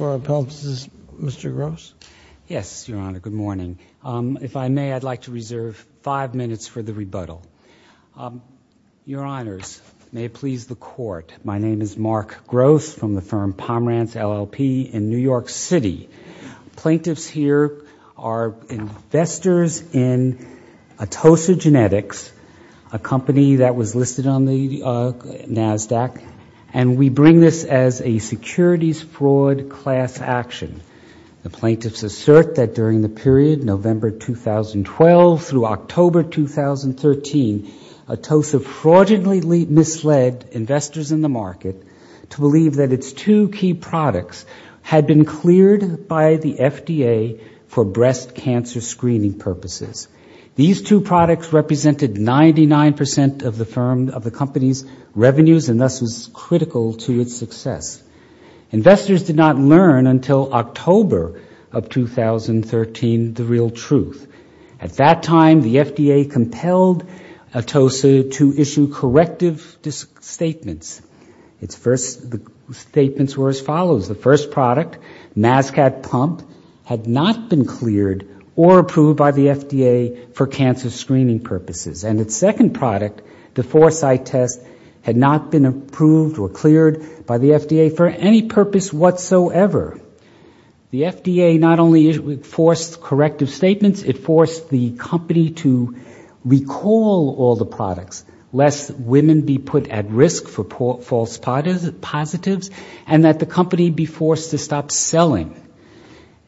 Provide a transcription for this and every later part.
Mark Gross, Pomerantz, LLC, New York City Plaintiffs here are investors in Atossa Genetics, a company that was listed on the NASDAQ, and we bring this as a securities fraud class action. The plaintiffs assert that during the period November 2012 through October 2013, Atossa fraudulently misled investors in the market to believe that its two key products had been cleared by the FDA for breast cancer screening purposes. These two products represented 99% of the company's revenues and thus was critical to its success. Investors did not learn until October of 2013 the real truth. At that time, the FDA compelled Atossa to issue corrective statements. Its first statements were as follows. The first product, Mascat Pump, had not been cleared or approved by the FDA for cancer screening purposes. And its second product, the Foresight Test, had not been approved or cleared by the FDA for any purpose whatsoever. The FDA not only forced corrective statements, it forced the company to recall all the products, lest women be put at risk for false positives, and that the company be forced to stop selling.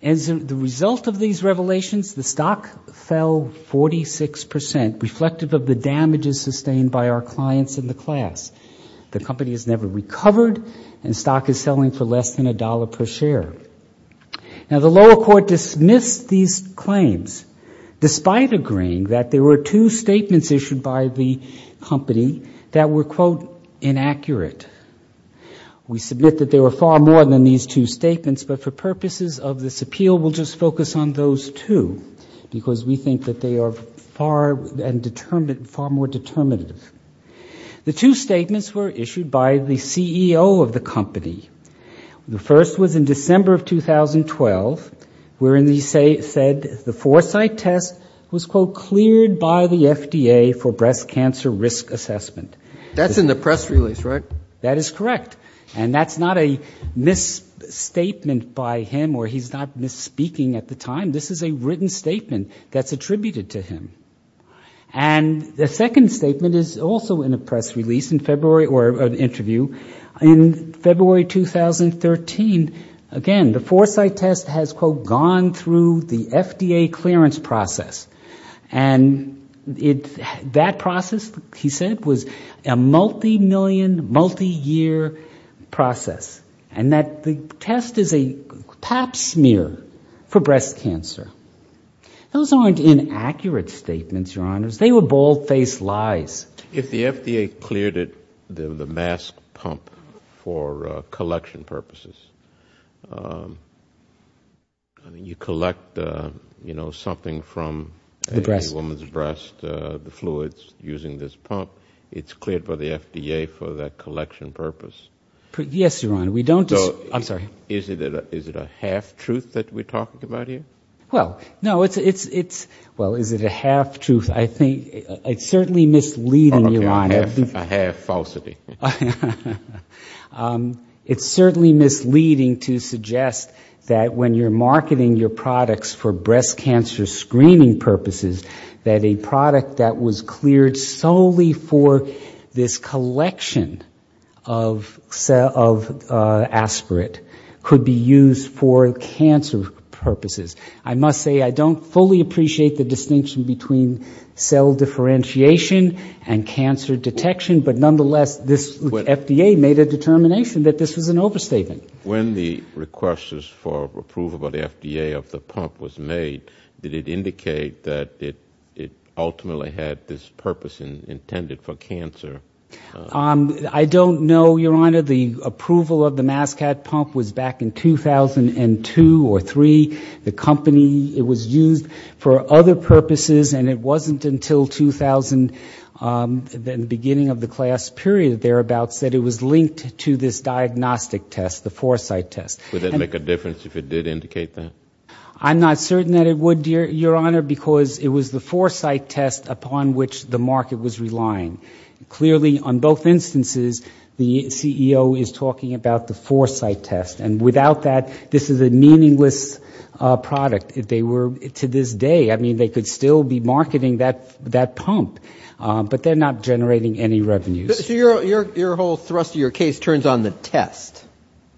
As a result of these revelations, the stock fell 46%, reflective of the damages sustained by our clients in the class. The company has never recovered, and stock is selling for less than a dollar per share. Now, the lower court dismissed these claims, despite agreeing that there were two statements issued by the company that were, quote, inaccurate. We submit that there were far more than these two statements, but for purposes of this appeal, we'll just focus on those two, because we think that they are far more determinative. The two statements were issued by the CEO of the company. The first was in December of 2012, wherein he said the Foresight Test was, quote, cleared by the FDA for breast cancer risk assessment. That's in the press release, right? That is correct. And that's not a misstatement by him, or he's not misspeaking at the time. This is a written statement that's attributed to him. And the second statement is also in a press release in February, or an interview, in February 2013. Again, the Foresight Test has, quote, gone through the FDA clearance process. And that process, he said, was a multi-million, multi-year process. And that the test is a pap smear for breast cancer. Those aren't inaccurate statements, Your Honors. They were bald-faced lies. If the FDA cleared the mask pump for collection purposes, you collect, you know, something from a woman's breast, the fluids using this pump, it's cleared by the FDA for that collection purpose? Yes, Your Honor. We don't just, I'm sorry. Is it a half-truth that we're talking about here? Well, no, it's, well, is it a half-truth? It's certainly misleading, Your Honor. The pump used for this collection of aspirate could be used for cancer purposes. I must say I don't fully appreciate the distinction between cell differentiation and cancer detection. But nonetheless, this FDA made a determination that this was an overstatement. When the request for approval by the FDA of the pump was made, did it indicate that it ultimately had this purpose intended for cancer? I don't know, Your Honor. The approval of the mass cat pump was back in 2002 or 2003. The company, it was used for other purposes, and it wasn't until 2000, the beginning of the class period thereabouts, that it was linked to this diagnostic test, the foresight test. Would it make a difference if it did indicate that? Clearly, on both instances, the CEO is talking about the foresight test, and without that, this is a meaningless product. If they were, to this day, I mean, they could still be marketing that pump, but they're not generating any revenues. So your whole thrust of your case turns on the test,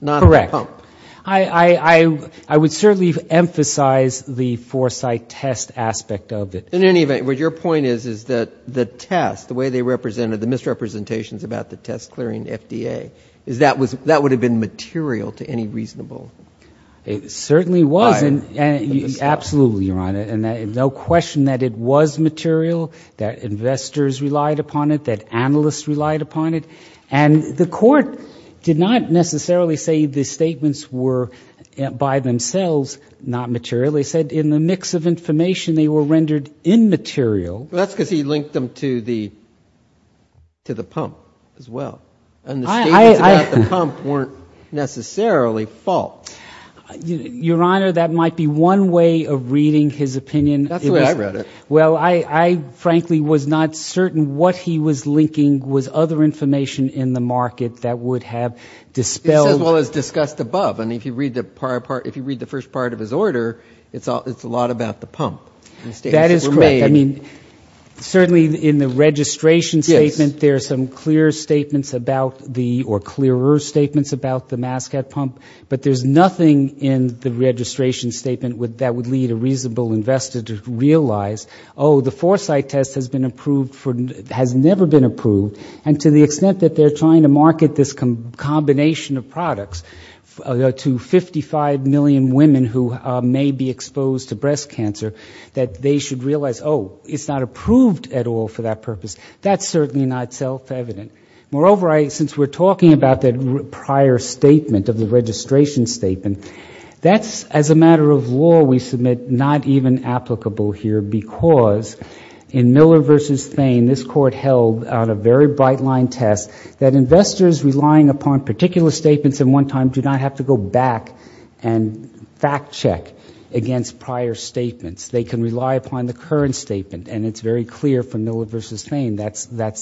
not on the pump? Correct. I would certainly emphasize the foresight test aspect of it. In any event, what your point is, is that the test, the way they represented the misrepresentations about the test clearing the FDA, that would have been material to any reasonable... It certainly was, absolutely, Your Honor, and no question that it was material, that investors relied upon it, that analysts relied upon it. And the court did not necessarily say the statements were by themselves not material. They said in the mix of information, they were rendered immaterial. Well, that's because he linked them to the pump as well, and the statements about the pump weren't necessarily false. Your Honor, that might be one way of reading his opinion. That's the way I read it. Well, I frankly was not certain what he was linking was other information in the market that would have dispelled... As well as discussed above. I mean, if you read the first part of his order, it's a lot about the pump. That is correct. I mean, certainly in the registration statement, there are some clearer statements about the, or clearer statements about the mascot pump. But there's nothing in the registration statement that would lead a reasonable investor to realize, oh, the foresight test has never been approved, and to the extent that they're trying to market this combination of products to 55 million women who may be exposed to breast cancer, that they should realize, oh, it's not approved at all for that purpose. That's certainly not self-evident. And that's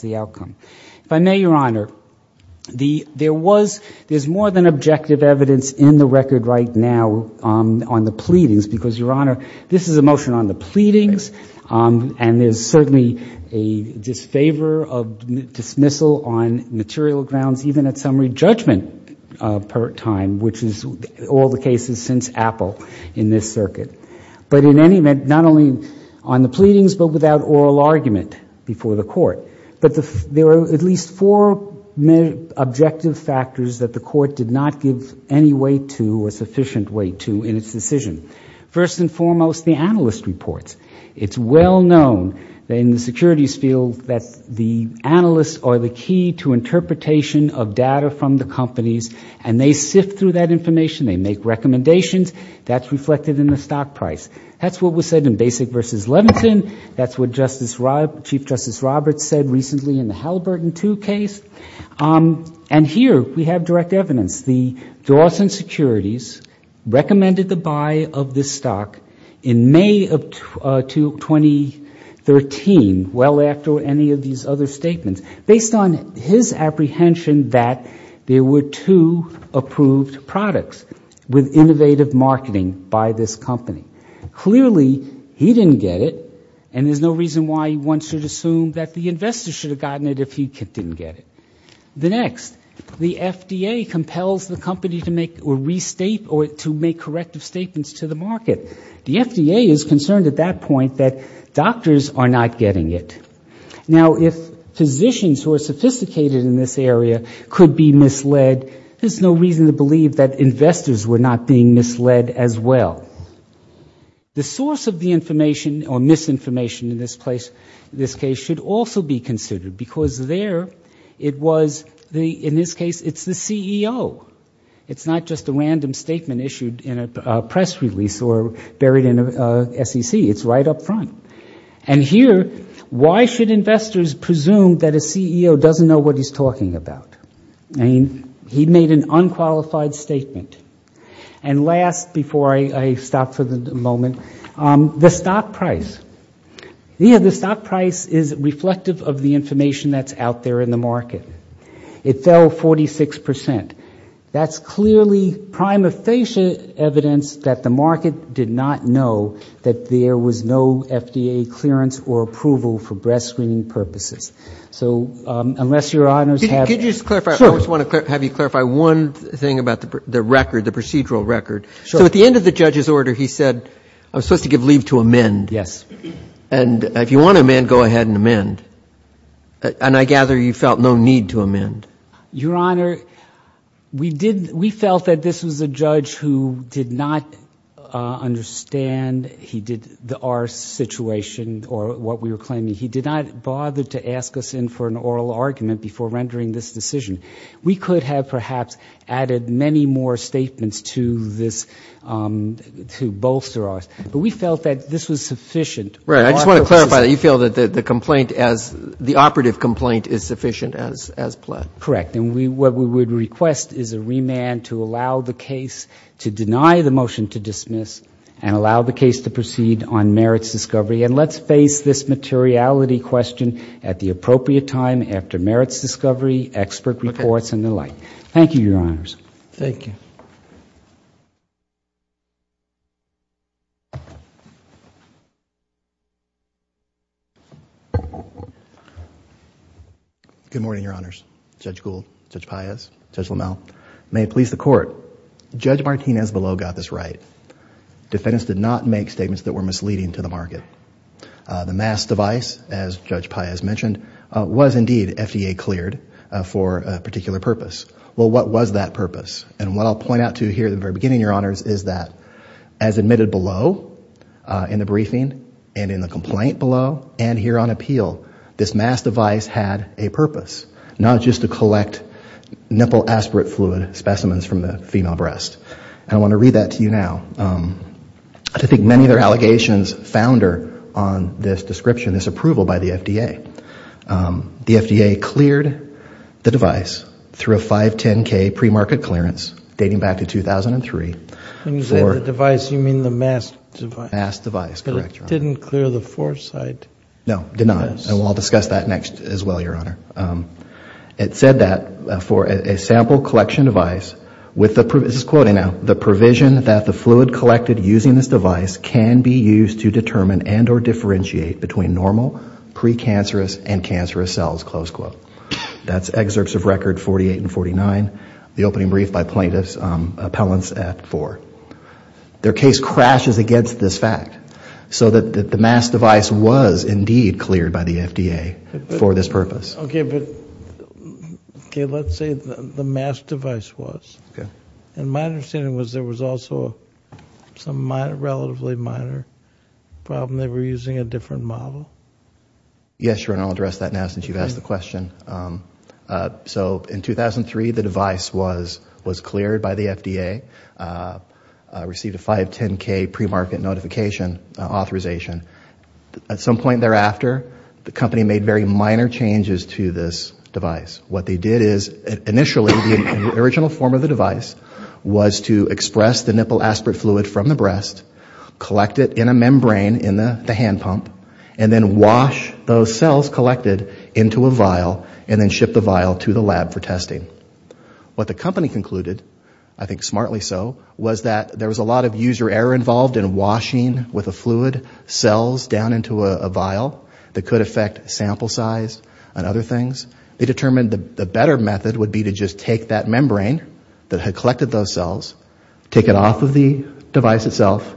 the outcome. If I may, Your Honor, there's more than objective evidence in the record right now on the pleadings, because, Your Honor, this is a motion on the pleadings, and there's certainly a disfavor of dismissal on material grounds, even at summary judgment per time, which is all the cases since Apple in this circuit. But in any event, not only on the pleadings, but without oral argument before the Court, but there are at least four objective factors that the Court did not give any weight to, or sufficient weight to, in its decision. First and foremost, the analyst reports. It's well known in the securities field that the analysts are the key to interpretation of data from the companies, and they sift through that information, they make recommendations, that's reflected in the stock market. That's what was said in Basic v. Leviton, that's what Chief Justice Roberts said recently in the Halliburton II case. And here we have direct evidence. The Dawson Securities recommended the buy of this stock in May of 2013, well after any of these other statements, based on his apprehension that there were two approved products with innovative marketing by this company. Clearly, he didn't get it, and there's no reason why one should assume that the investor should have gotten it if he didn't get it. The next, the FDA compels the company to make or restate or to make corrective statements to the market. The FDA is concerned at that point that doctors are not getting it. Now, if physicians who are sophisticated in this area could be misled, there's no reason to believe that investors were not being misled as well. The source of the information or misinformation in this case should also be considered, because there it was, in this case, it's the CEO. It's not just a random statement issued in a press release or buried in a SEC. It's right up front. And here, why should investors presume that a CEO doesn't know what he's talking about? I mean, he made an unqualified statement. And last, before I stop for the moment, the stock price. The stock price is reflective of the information that's out there in the market. It fell 46%. That's clearly prima facie evidence that the market did not know that there was no FDA clearance or approval for breast screening purposes. So unless Your Honors have... Could you just clarify, I just want to have you clarify one thing about the record, the procedural record. So at the end of the judge's order, he said, I'm supposed to give leave to amend. Yes. And if you want to amend, go ahead and amend. And I gather you felt no need to amend. Your Honor, we felt that this was a judge who did not understand our situation or what we were claiming. He did not bother to ask us in for an oral argument before rendering this decision. We could have perhaps added many more statements to this, to bolster us. But we felt that this was sufficient. Right. I just want to clarify that you feel that the complaint as, the operative complaint is sufficient as pled. Correct. And what we would request is a remand to allow the case to deny the motion to dismiss and allow the case to proceed on merits discovery. And let's face this materiality question at the appropriate time after merits discovery, expert reports and the like. Thank you, Your Honors. Good morning, Your Honors. Judge Gould, Judge Paez, Judge LaMalle, may it please the Court. Judge Martinez below got this right. Defendants did not make statements that were misleading to the market. The mass device, as Judge Paez mentioned, was indeed FDA cleared for a particular purpose. Well, what was that purpose? And what I'll point out to you here at the very beginning, Your Honors, is that as admitted below in the briefing and in the complaint below and here on appeal, this mass device had a purpose. Not just to collect nipple aspirate fluid specimens from the female breast. And I want to read that to you now. I think many of their allegations founder on this description, this approval by the FDA. The FDA cleared the device through a 510K premarket clearance dating back to 2003. When you say the device, you mean the mass device. Mass device, correct, Your Honor. But it didn't clear the foresight. No, it did not. And we'll discuss that next as well, Your Honor. It said that for a sample collection device with the, this is quoting now, the provision that the fluid collected using this device can be used to determine and or differentiate between normal, pre-cancerous and cancerous cells, close quote. That's excerpts of record 48 and 49, the opening brief by plaintiff's appellants at four. Their case crashes against this fact. Okay, but let's say the mass device was. And my understanding was there was also some relatively minor problem they were using a different model? Yes, Your Honor, I'll address that now since you've asked the question. So in 2003, the device was cleared by the FDA, received a 510K premarket notification authorization. At some point thereafter, the company made very minor changes to this device. What they did is initially the original form of the device was to express the nipple aspirate fluid from the breast, collect it in a membrane in the hand pump, and then wash those cells collected into a vial and then ship the vial to the lab for testing. What the company concluded, I think smartly so, was that there was a lot of user error involved in washing with a fluid cell. So they took the cells down into a vial that could affect sample size and other things. They determined the better method would be to just take that membrane that had collected those cells, take it off of the device itself,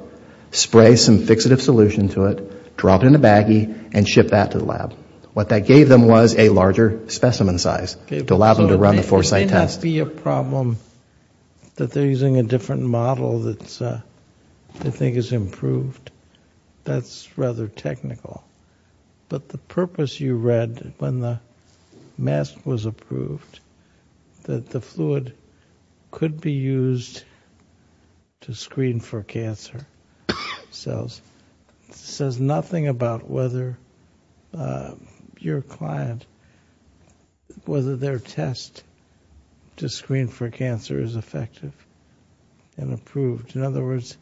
spray some fixative solution to it, drop it in a baggie, and ship that to the lab. What that gave them was a larger specimen size to allow them to run the foresight test. So it may not be a problem that they're using a different model that they think is improved? It's rather technical. But the purpose you read when the mask was approved, that the fluid could be used to screen for cancer cells, says nothing about whether your client, whether their test to screen for cancer is effective and approved. In other words,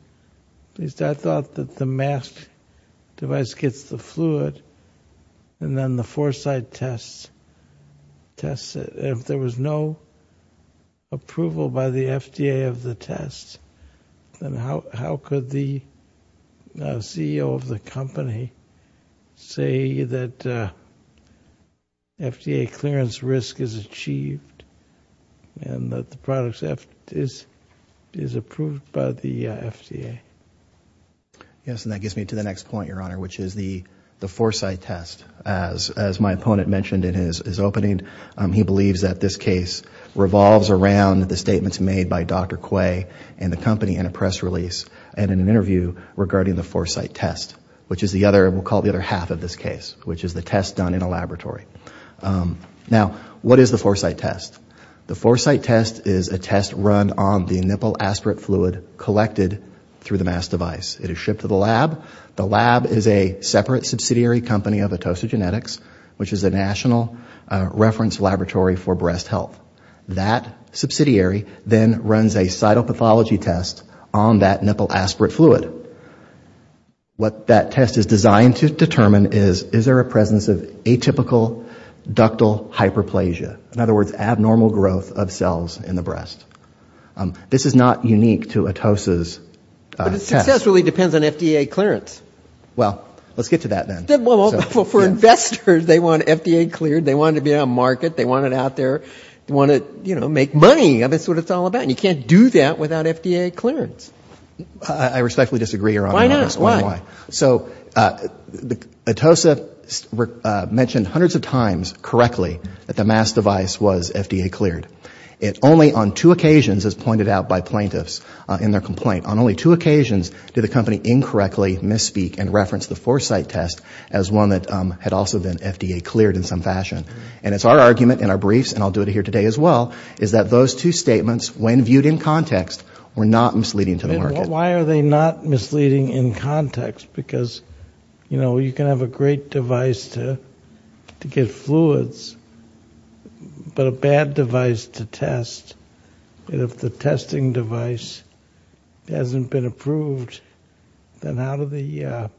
at least I thought that the mask device gets the fluid and then the foresight test tests it. If there was no approval by the FDA of the test, then how could the CEO of the company say that FDA clearance risk is achieved and that the product is approved by the FDA? Yes, and that gets me to the next point, Your Honor, which is the foresight test. As my opponent mentioned in his opening, he believes that this case revolves around the statements made by Dr. Quay and the company in a press release and in an interview regarding the foresight test, which is the other, we'll call it the other half of this case, which is the test done in a laboratory. Now, what is the foresight test? The foresight test is a test run on the nipple aspirate fluid collected through the mask device. It is shipped to the lab. The lab is a separate subsidiary company of Atosogenetics, which is a national reference laboratory for breast health. That subsidiary then runs a cytopathology test on that nipple aspirate fluid. What that test is designed to determine is, is there a presence of atypical ductal hyperplasia? In other words, abnormal growth of cells in the breast. This is not unique to Atosa's test. But it successfully depends on FDA clearance. Well, let's get to that then. Well, for investors, they want FDA cleared, they want it to be on market, they want it out there, they want to, you know, make money. That's what it's all about. And you can't do that without FDA clearance. I respectfully disagree, Your Honor. Why not? So Atosa mentioned hundreds of times correctly that the mask device was FDA cleared. It only on two occasions, as pointed out by plaintiffs in their complaint, on only two occasions did the company incorrectly misspeak and reference the Foresight test as one that had also been FDA cleared in some fashion. And it's our argument in our briefs, and I'll do it here today as well, is that those two statements, when viewed in context, were not misleading to the market. Why are they not misleading in context? Because, you know, you can have a great device to get fluids, but a bad device doesn't work. You can have a great device to test, but if the testing device hasn't been approved, then how do the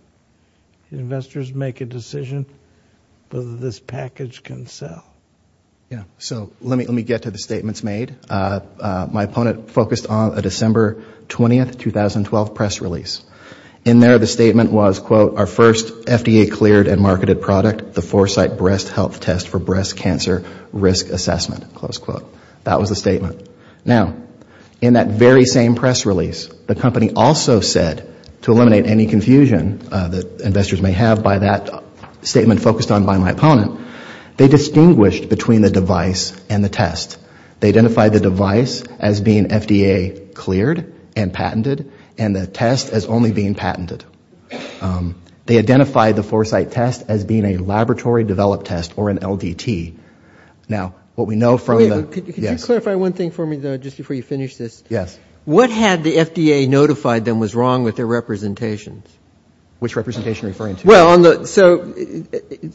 investors make a decision whether this package can sell? Yeah, so let me get to the statements made. My opponent focused on a December 20, 2012 press release. In there, the statement was, quote, our first FDA cleared and marketed product, the Foresight Breast Health Test for Breast Cancer Risk Assessment. That was the statement. Now, in that very same press release, the company also said, to eliminate any confusion that investors may have by that statement focused on by my opponent, they distinguished between the device and the test. They identified the device as being FDA cleared and patented, and the test as only being patented. They identified the Foresight test as being a laboratory developed test, or an LDT. Now, what we know from the yes. Could you clarify one thing for me, though, just before you finish this? Yes. What had the FDA notified them was wrong with their representations? Which representation are you referring to? Well, so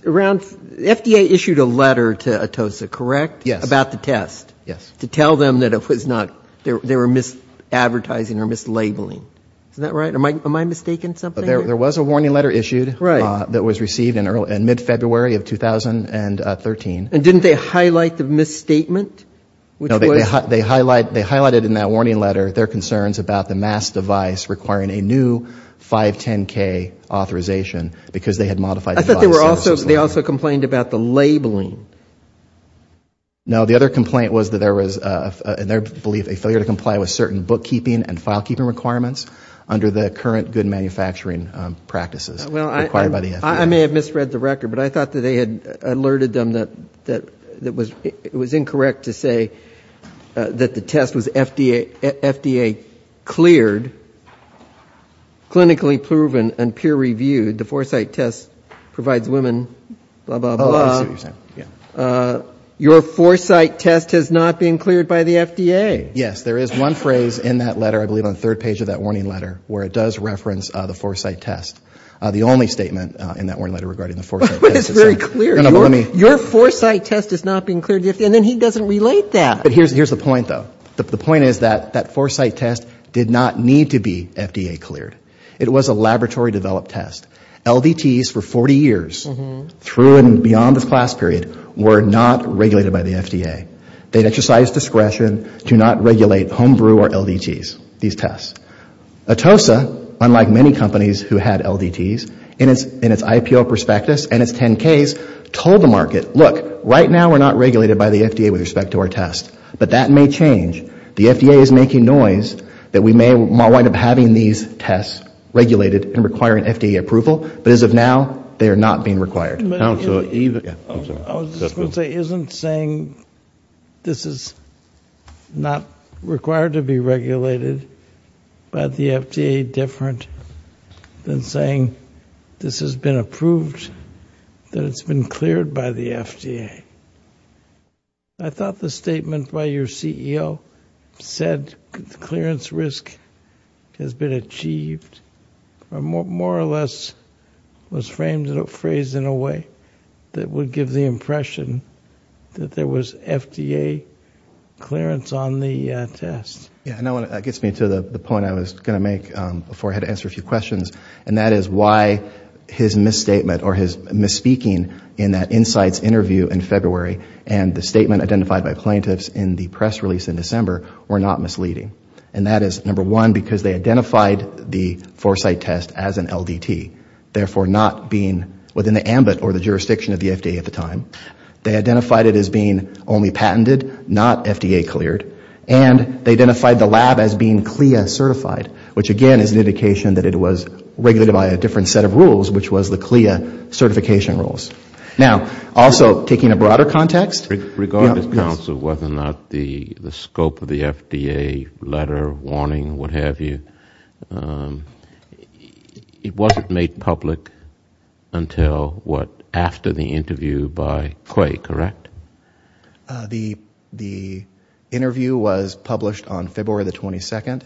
around, the FDA issued a letter to Atosa, correct? Yes. About the test, to tell them that it was not, they were mis-advertising or mis-labeling. Is that right? Am I mistaking something here? There was a warning letter issued that was received in mid-February of 2013. And didn't they highlight the misstatement? No, they highlighted in that warning letter their concerns about the mass device requiring a new 510K authorization, because they had modified the device. I thought they also complained about the labeling. No, the other complaint was that there was, in their belief, a failure to comply with certain bookkeeping and filekeeping requirements under the current good manufacturing practices. I may have misread the record, but I thought that they had alerted them that it was incorrect to say that the test was FDA cleared, clinically proven, and peer reviewed. The foresight test provides women, blah, blah, blah. Your foresight test has not been cleared by the FDA. Yes, there is one phrase in that letter, I believe on the third page of that warning letter, where it does reference the foresight test. The only statement in that warning letter regarding the foresight test is... But it's very clear. Your foresight test is not being cleared by the FDA. And then he doesn't relate that. But here's the point, though. The point is that that foresight test did not need to be FDA cleared. It was a laboratory-developed test. LDTs for 40 years, through and beyond this class period, were not regulated by the FDA. They exercised discretion to not regulate homebrew or LDTs, these tests. Atosa, unlike many companies who had LDTs, in its IPO prospectus and its 10Ks, told the market, look, right now we're not regulated by the FDA with respect to our test. But that may change. The FDA is making noise that we may wind up having these tests regulated and requiring FDA approval. But as of now, they are not being required. I was just going to say, isn't saying this is not required to be regulated by the FDA different than saying this has been approved, that it's been cleared by the FDA? I thought the statement by your CEO said clearance risk has been achieved, or more or less was phrased in a way that would give the impression that there was FDA clearance on the test. Yeah, and that gets me to the point I was going to make before I had to answer a few questions. And that is why his misstatement or his misspeaking in that Insights interview in February and the statement identified by plaintiffs in the press release in December were not misleading. And that is, number one, because they identified the Foresight test as an LDT. Therefore, not being within the ambit or the jurisdiction of the FDA at the time. They identified it as being only patented, not FDA cleared. And they identified the lab as being CLIA certified, which again is an indication that it was regulated by a different set of rules, which was the CLIA certification rules. Now, also taking a broader context. Yes. Regardless, counsel, whether or not the scope of the FDA letter, warning, what have you, it wasn't made public until what, after the interview by Clay, correct? The interview was published on February the 22nd,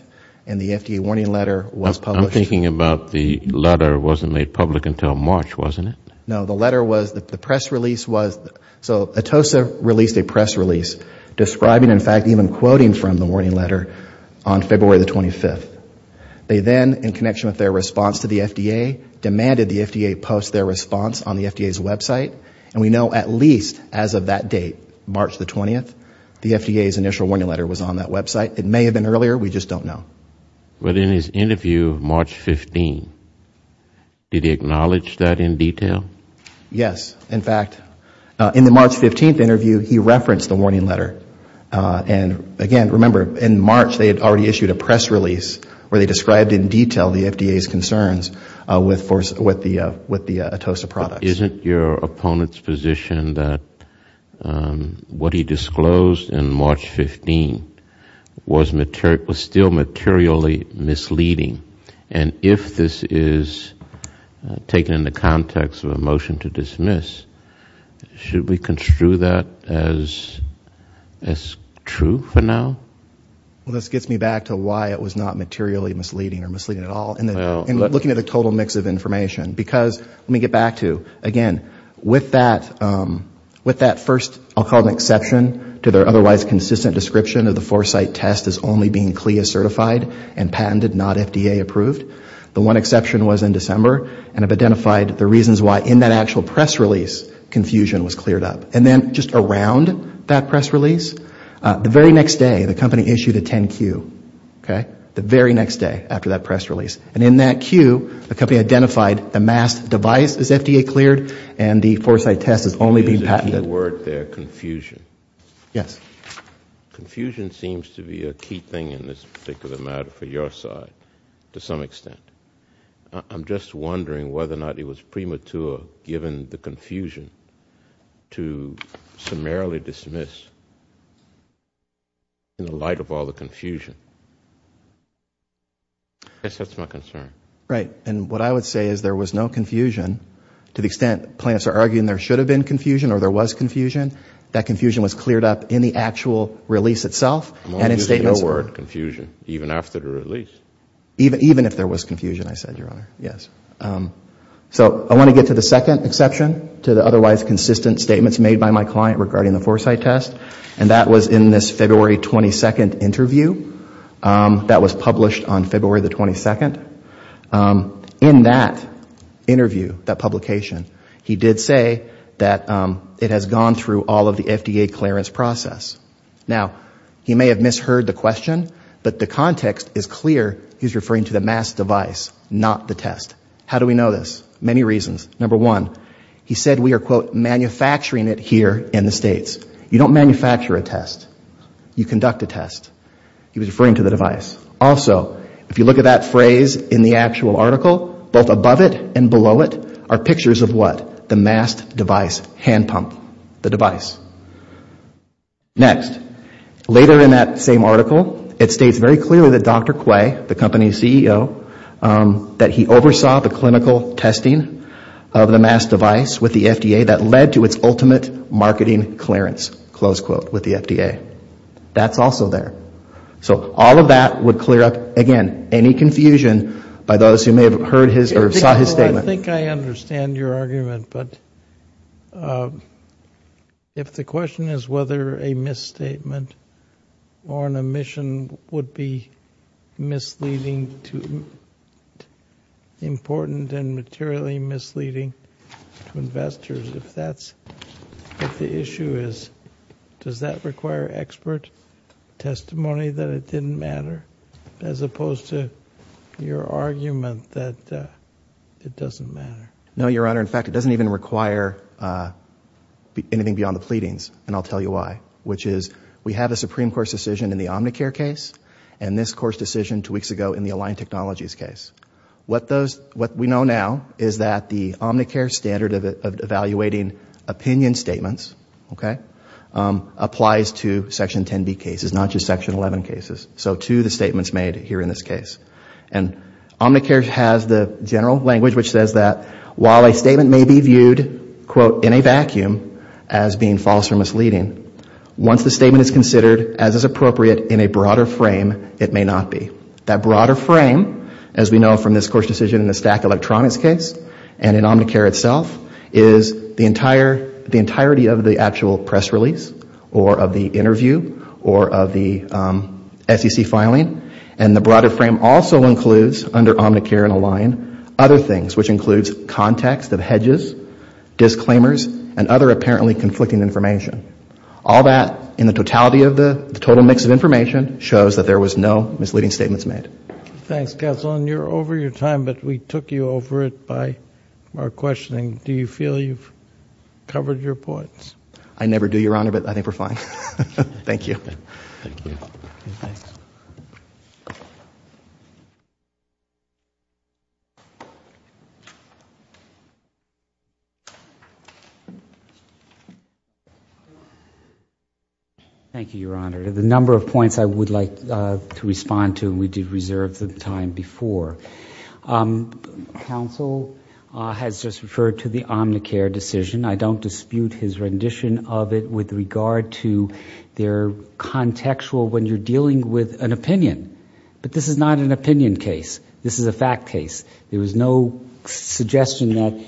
and the FDA warning letter was published. I'm thinking about the letter wasn't made public until March, wasn't it? No, the letter was, the press release was, so Atosa released a press release describing, in fact, even quoting from the warning letter on February the 25th. They then, in connection with their response to the FDA, demanded the FDA post their response on the FDA's website. And we know at least as of that date, March the 20th, the FDA's initial warning letter was on that website. It may have been earlier, we just don't know. But in his interview March 15th, did he acknowledge that in detail? Yes, in fact, in the March 15th interview, he referenced the warning letter. And again, remember, in March they had already issued a press release where they described in detail the FDA's concerns with the Atosa products. Isn't your opponent's position that what he disclosed in March 15th was still materially misleading? And if this is taken in the context of a motion to dismiss, should we construe that as true for now? Well, this gets me back to why it was not materially misleading or misleading at all. And looking at the total mix of information. Because, let me get back to, again, with that first, I'll call it an exception, to their otherwise consistent description of the Foresight test as only being CLIA certified and patented, not FDA approved, the one exception was in December. And I've identified the reasons why in that actual press release confusion was cleared up. And then just around that press release, the very next day, the company issued a 10-Q, okay? The very next day after that press release. And in that Q, the company identified the mass device is FDA cleared and the Foresight test is only being patented. Yes. Confusion seems to be a key thing in this particular matter for your side, to some extent. I'm just wondering whether or not it was premature, given the confusion, to summarily dismiss in the light of all the confusion. I guess that's my concern. Right. And what I would say is there was no confusion to the extent plaintiffs are arguing there should have been confusion or there was confusion. That confusion was cleared up in the actual release itself. I'm only using your word, confusion, even after the release. Even if there was confusion, I said, Your Honor, yes. So I want to get to the second exception to the otherwise consistent statements made by my client regarding the Foresight test. And that was in this February 22 interview that was published on February 22. In that interview, that publication, he did say that it has gone through all of the FDA clearance process. Now, he may have misheard the question, but the context is clear. He's referring to the mass device, not the test. How do we know this? Many reasons. Number one, he said we are, quote, manufacturing it here in the States. You don't manufacture a test. You conduct a test. He was referring to the device. Also, if you look at that phrase in the actual article, both above it and below it are pictures of what? The mass device, hand pump, the device. Next, later in that same article, it states very clearly that Dr. Quay, the company's CEO, that he oversaw the clinical testing of the mass device with the FDA that led to its ultimate marketing clearance, close quote, with the FDA. That's also there. So you're saying that this is your expert testimony that it didn't matter, as opposed to your argument that it doesn't matter? No, Your Honor. In fact, it doesn't even require anything beyond the pleadings, and I'll tell you why, which is we have a Supreme Court decision in the Omnicare case and this Court's decision two weeks ago in the Aligned Technologies case. What we know now is that the Omnicare standard of evaluating opinion statements, okay, applies to Section 10B cases, not just Section 11 cases, so to the statements made here in this case. And Omnicare has the general language which says that while a statement may be viewed, quote, in a vacuum as being false or misleading, once the statement is considered as is appropriate in a broader frame, it may not be. That broader frame, as we know from this Court's decision in the Stack Electronics case and in Omnicare itself, is the entirety of the actual press release or of the interview or of the SEC filing. And the broader frame also includes, under Omnicare and Aligned, other things, which includes context of hedges, disclaimers and other apparently conflicting information. All that, in the totality of the total mix of information, shows that there was no misleading statements made. Thanks, Counselor. And you're over your time, but we took you over it by our questioning. Do you feel you've covered your points? I never do, Your Honor, but I think we're fine. Thank you. Thanks. Thank you, Your Honor. The number of points I would like to respond to, we did reserve the time before. Counsel has just referred to the Omnicare decision. It's very contextual when you're dealing with an opinion, but this is not an opinion case. This is a fact case. There was no suggestion that,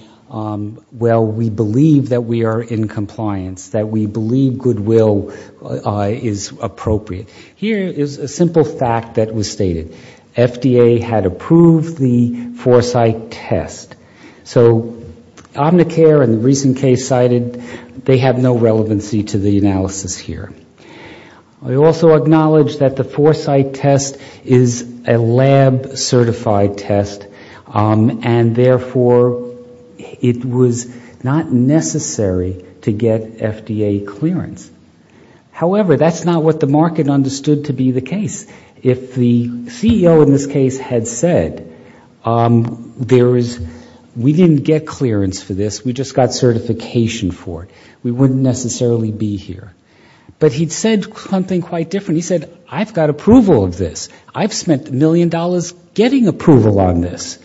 well, we believe that we are in compliance, that we believe good will is appropriate. Here is a simple fact that was stated. FDA had approved the Foresight test. So Omnicare and the recent case cited, they have no relevancy to the analysis here. We also acknowledge that the Foresight test is a lab certified test, and therefore it was not necessary to get FDA clearance. However, that's not what the market understood to be the case. If the CEO in this case had said, there is, we didn't get clearance for this. We just got certification for it. We wouldn't necessarily be here. But he said something quite different. He said, I've got approval of this. I've spent a million dollars getting approval on this.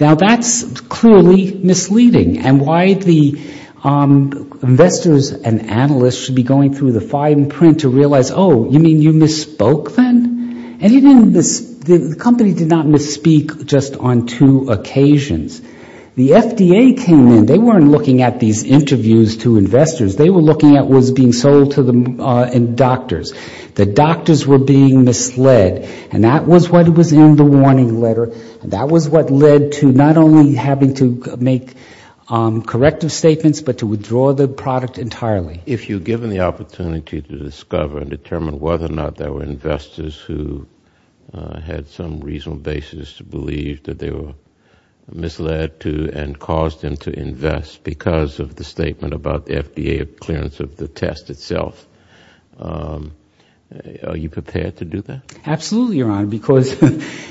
Now, that's clearly misleading. And why the investors and analysts should be going through the fine print to realize, oh, you mean you misspoke then? And he didn't, the company did not misspeak just on two occasions. The FDA came in, they weren't looking at these interviews to investors. They were looking at what was being sold to the doctors. The doctors were being misled, and that was what was in the warning letter. That was what led to not only having to make corrective statements, but to withdraw the product entirely. If you're given the opportunity to discover and determine whether or not there were investors who had some reasonable basis to believe that they were misled to and caused them to invest because of the statement about the FDA clearance of the test itself, are you prepared to do that? Absolutely, Your Honor, because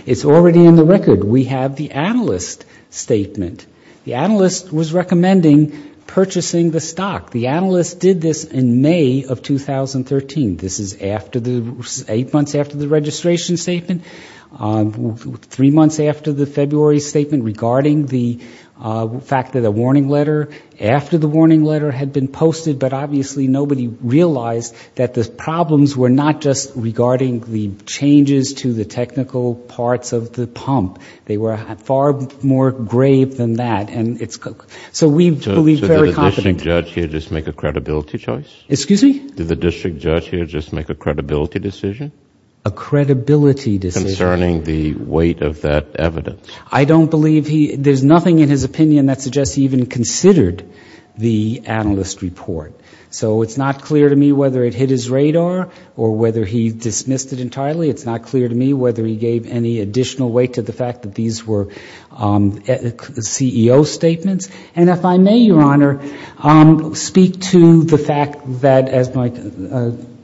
it's already in the record. We have the analyst's statement. The analyst was recommending purchasing the stock. The analyst did this in May of 2013. This is eight months after the registration statement. Three months after the February statement regarding the fact that a warning letter after the warning letter had been posted, but obviously nobody realized that the problems were not just regarding the changes to the technical parts of the pump. They were far more grave than that. So we believe very confidently. Did the district judge here just make a credibility decision? A credibility decision. Concerning the weight of that evidence. I don't believe he, there's nothing in his opinion that suggests he even considered the analyst report. So it's not clear to me whether it hit his radar or whether he dismissed it entirely. It's not clear to me whether he gave any additional weight to the fact that these were CEO statements. And if I may, Your Honor, speak to the fact that, as my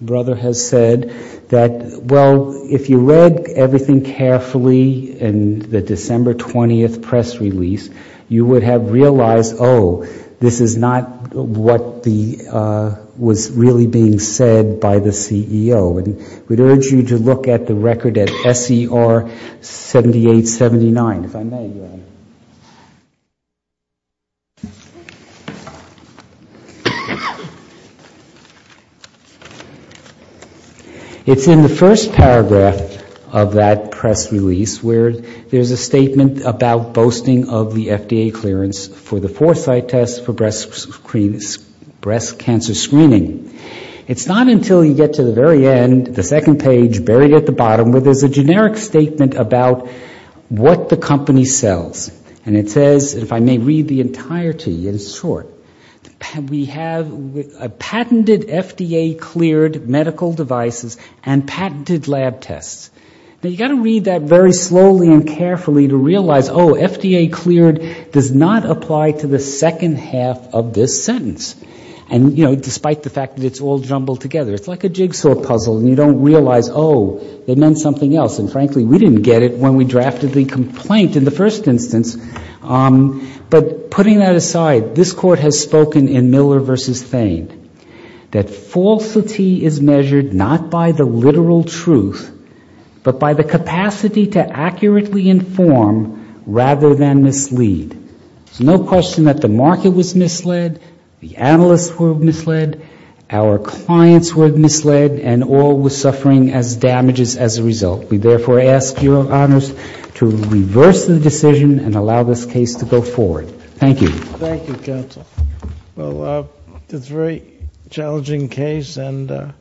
brother has said, that, well, if you read everything carefully in the December 20th press release, you would have realized, oh, this is not what the analyst reported. It was really being said by the CEO. And we'd urge you to look at the record at SER 7879, if I may, Your Honor. It's in the first paragraph of that press release where there's a statement about boasting of the FDA clearance for the cancer screening. It's not until you get to the very end, the second page, buried at the bottom, where there's a generic statement about what the company sells. And it says, if I may read the entirety, it's short. We have a patented FDA cleared medical devices and patented lab tests. Now, you've got to read that very slowly and carefully to realize, oh, FDA cleared does not apply to the second half of this sentence. And, you know, despite the fact that it's all jumbled together, it's like a jigsaw puzzle and you don't realize, oh, it meant something else. And, frankly, we didn't get it when we drafted the complaint in the first instance. But putting that aside, this Court has spoken in Miller v. Thain that falsity is measured not by the literal truth, but by the capacity to accurately inform rather than mislead. There's no question that the market was misled, the analysts were misled, our clients were misled, and all were suffering as damages as a result. We therefore ask your honors to reverse the decision and allow this case to go forward. Thank you. Thank you, counsel. Well, it's a very challenging case, and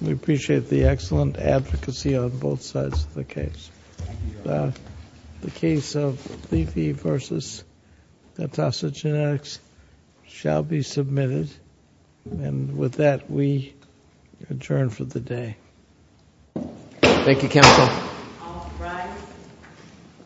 we appreciate the excellent advocacy on both sides of the case. The case of Levy v. Natasa Genetics shall be submitted. And with that, we adjourn for the day. Thank you, counsel.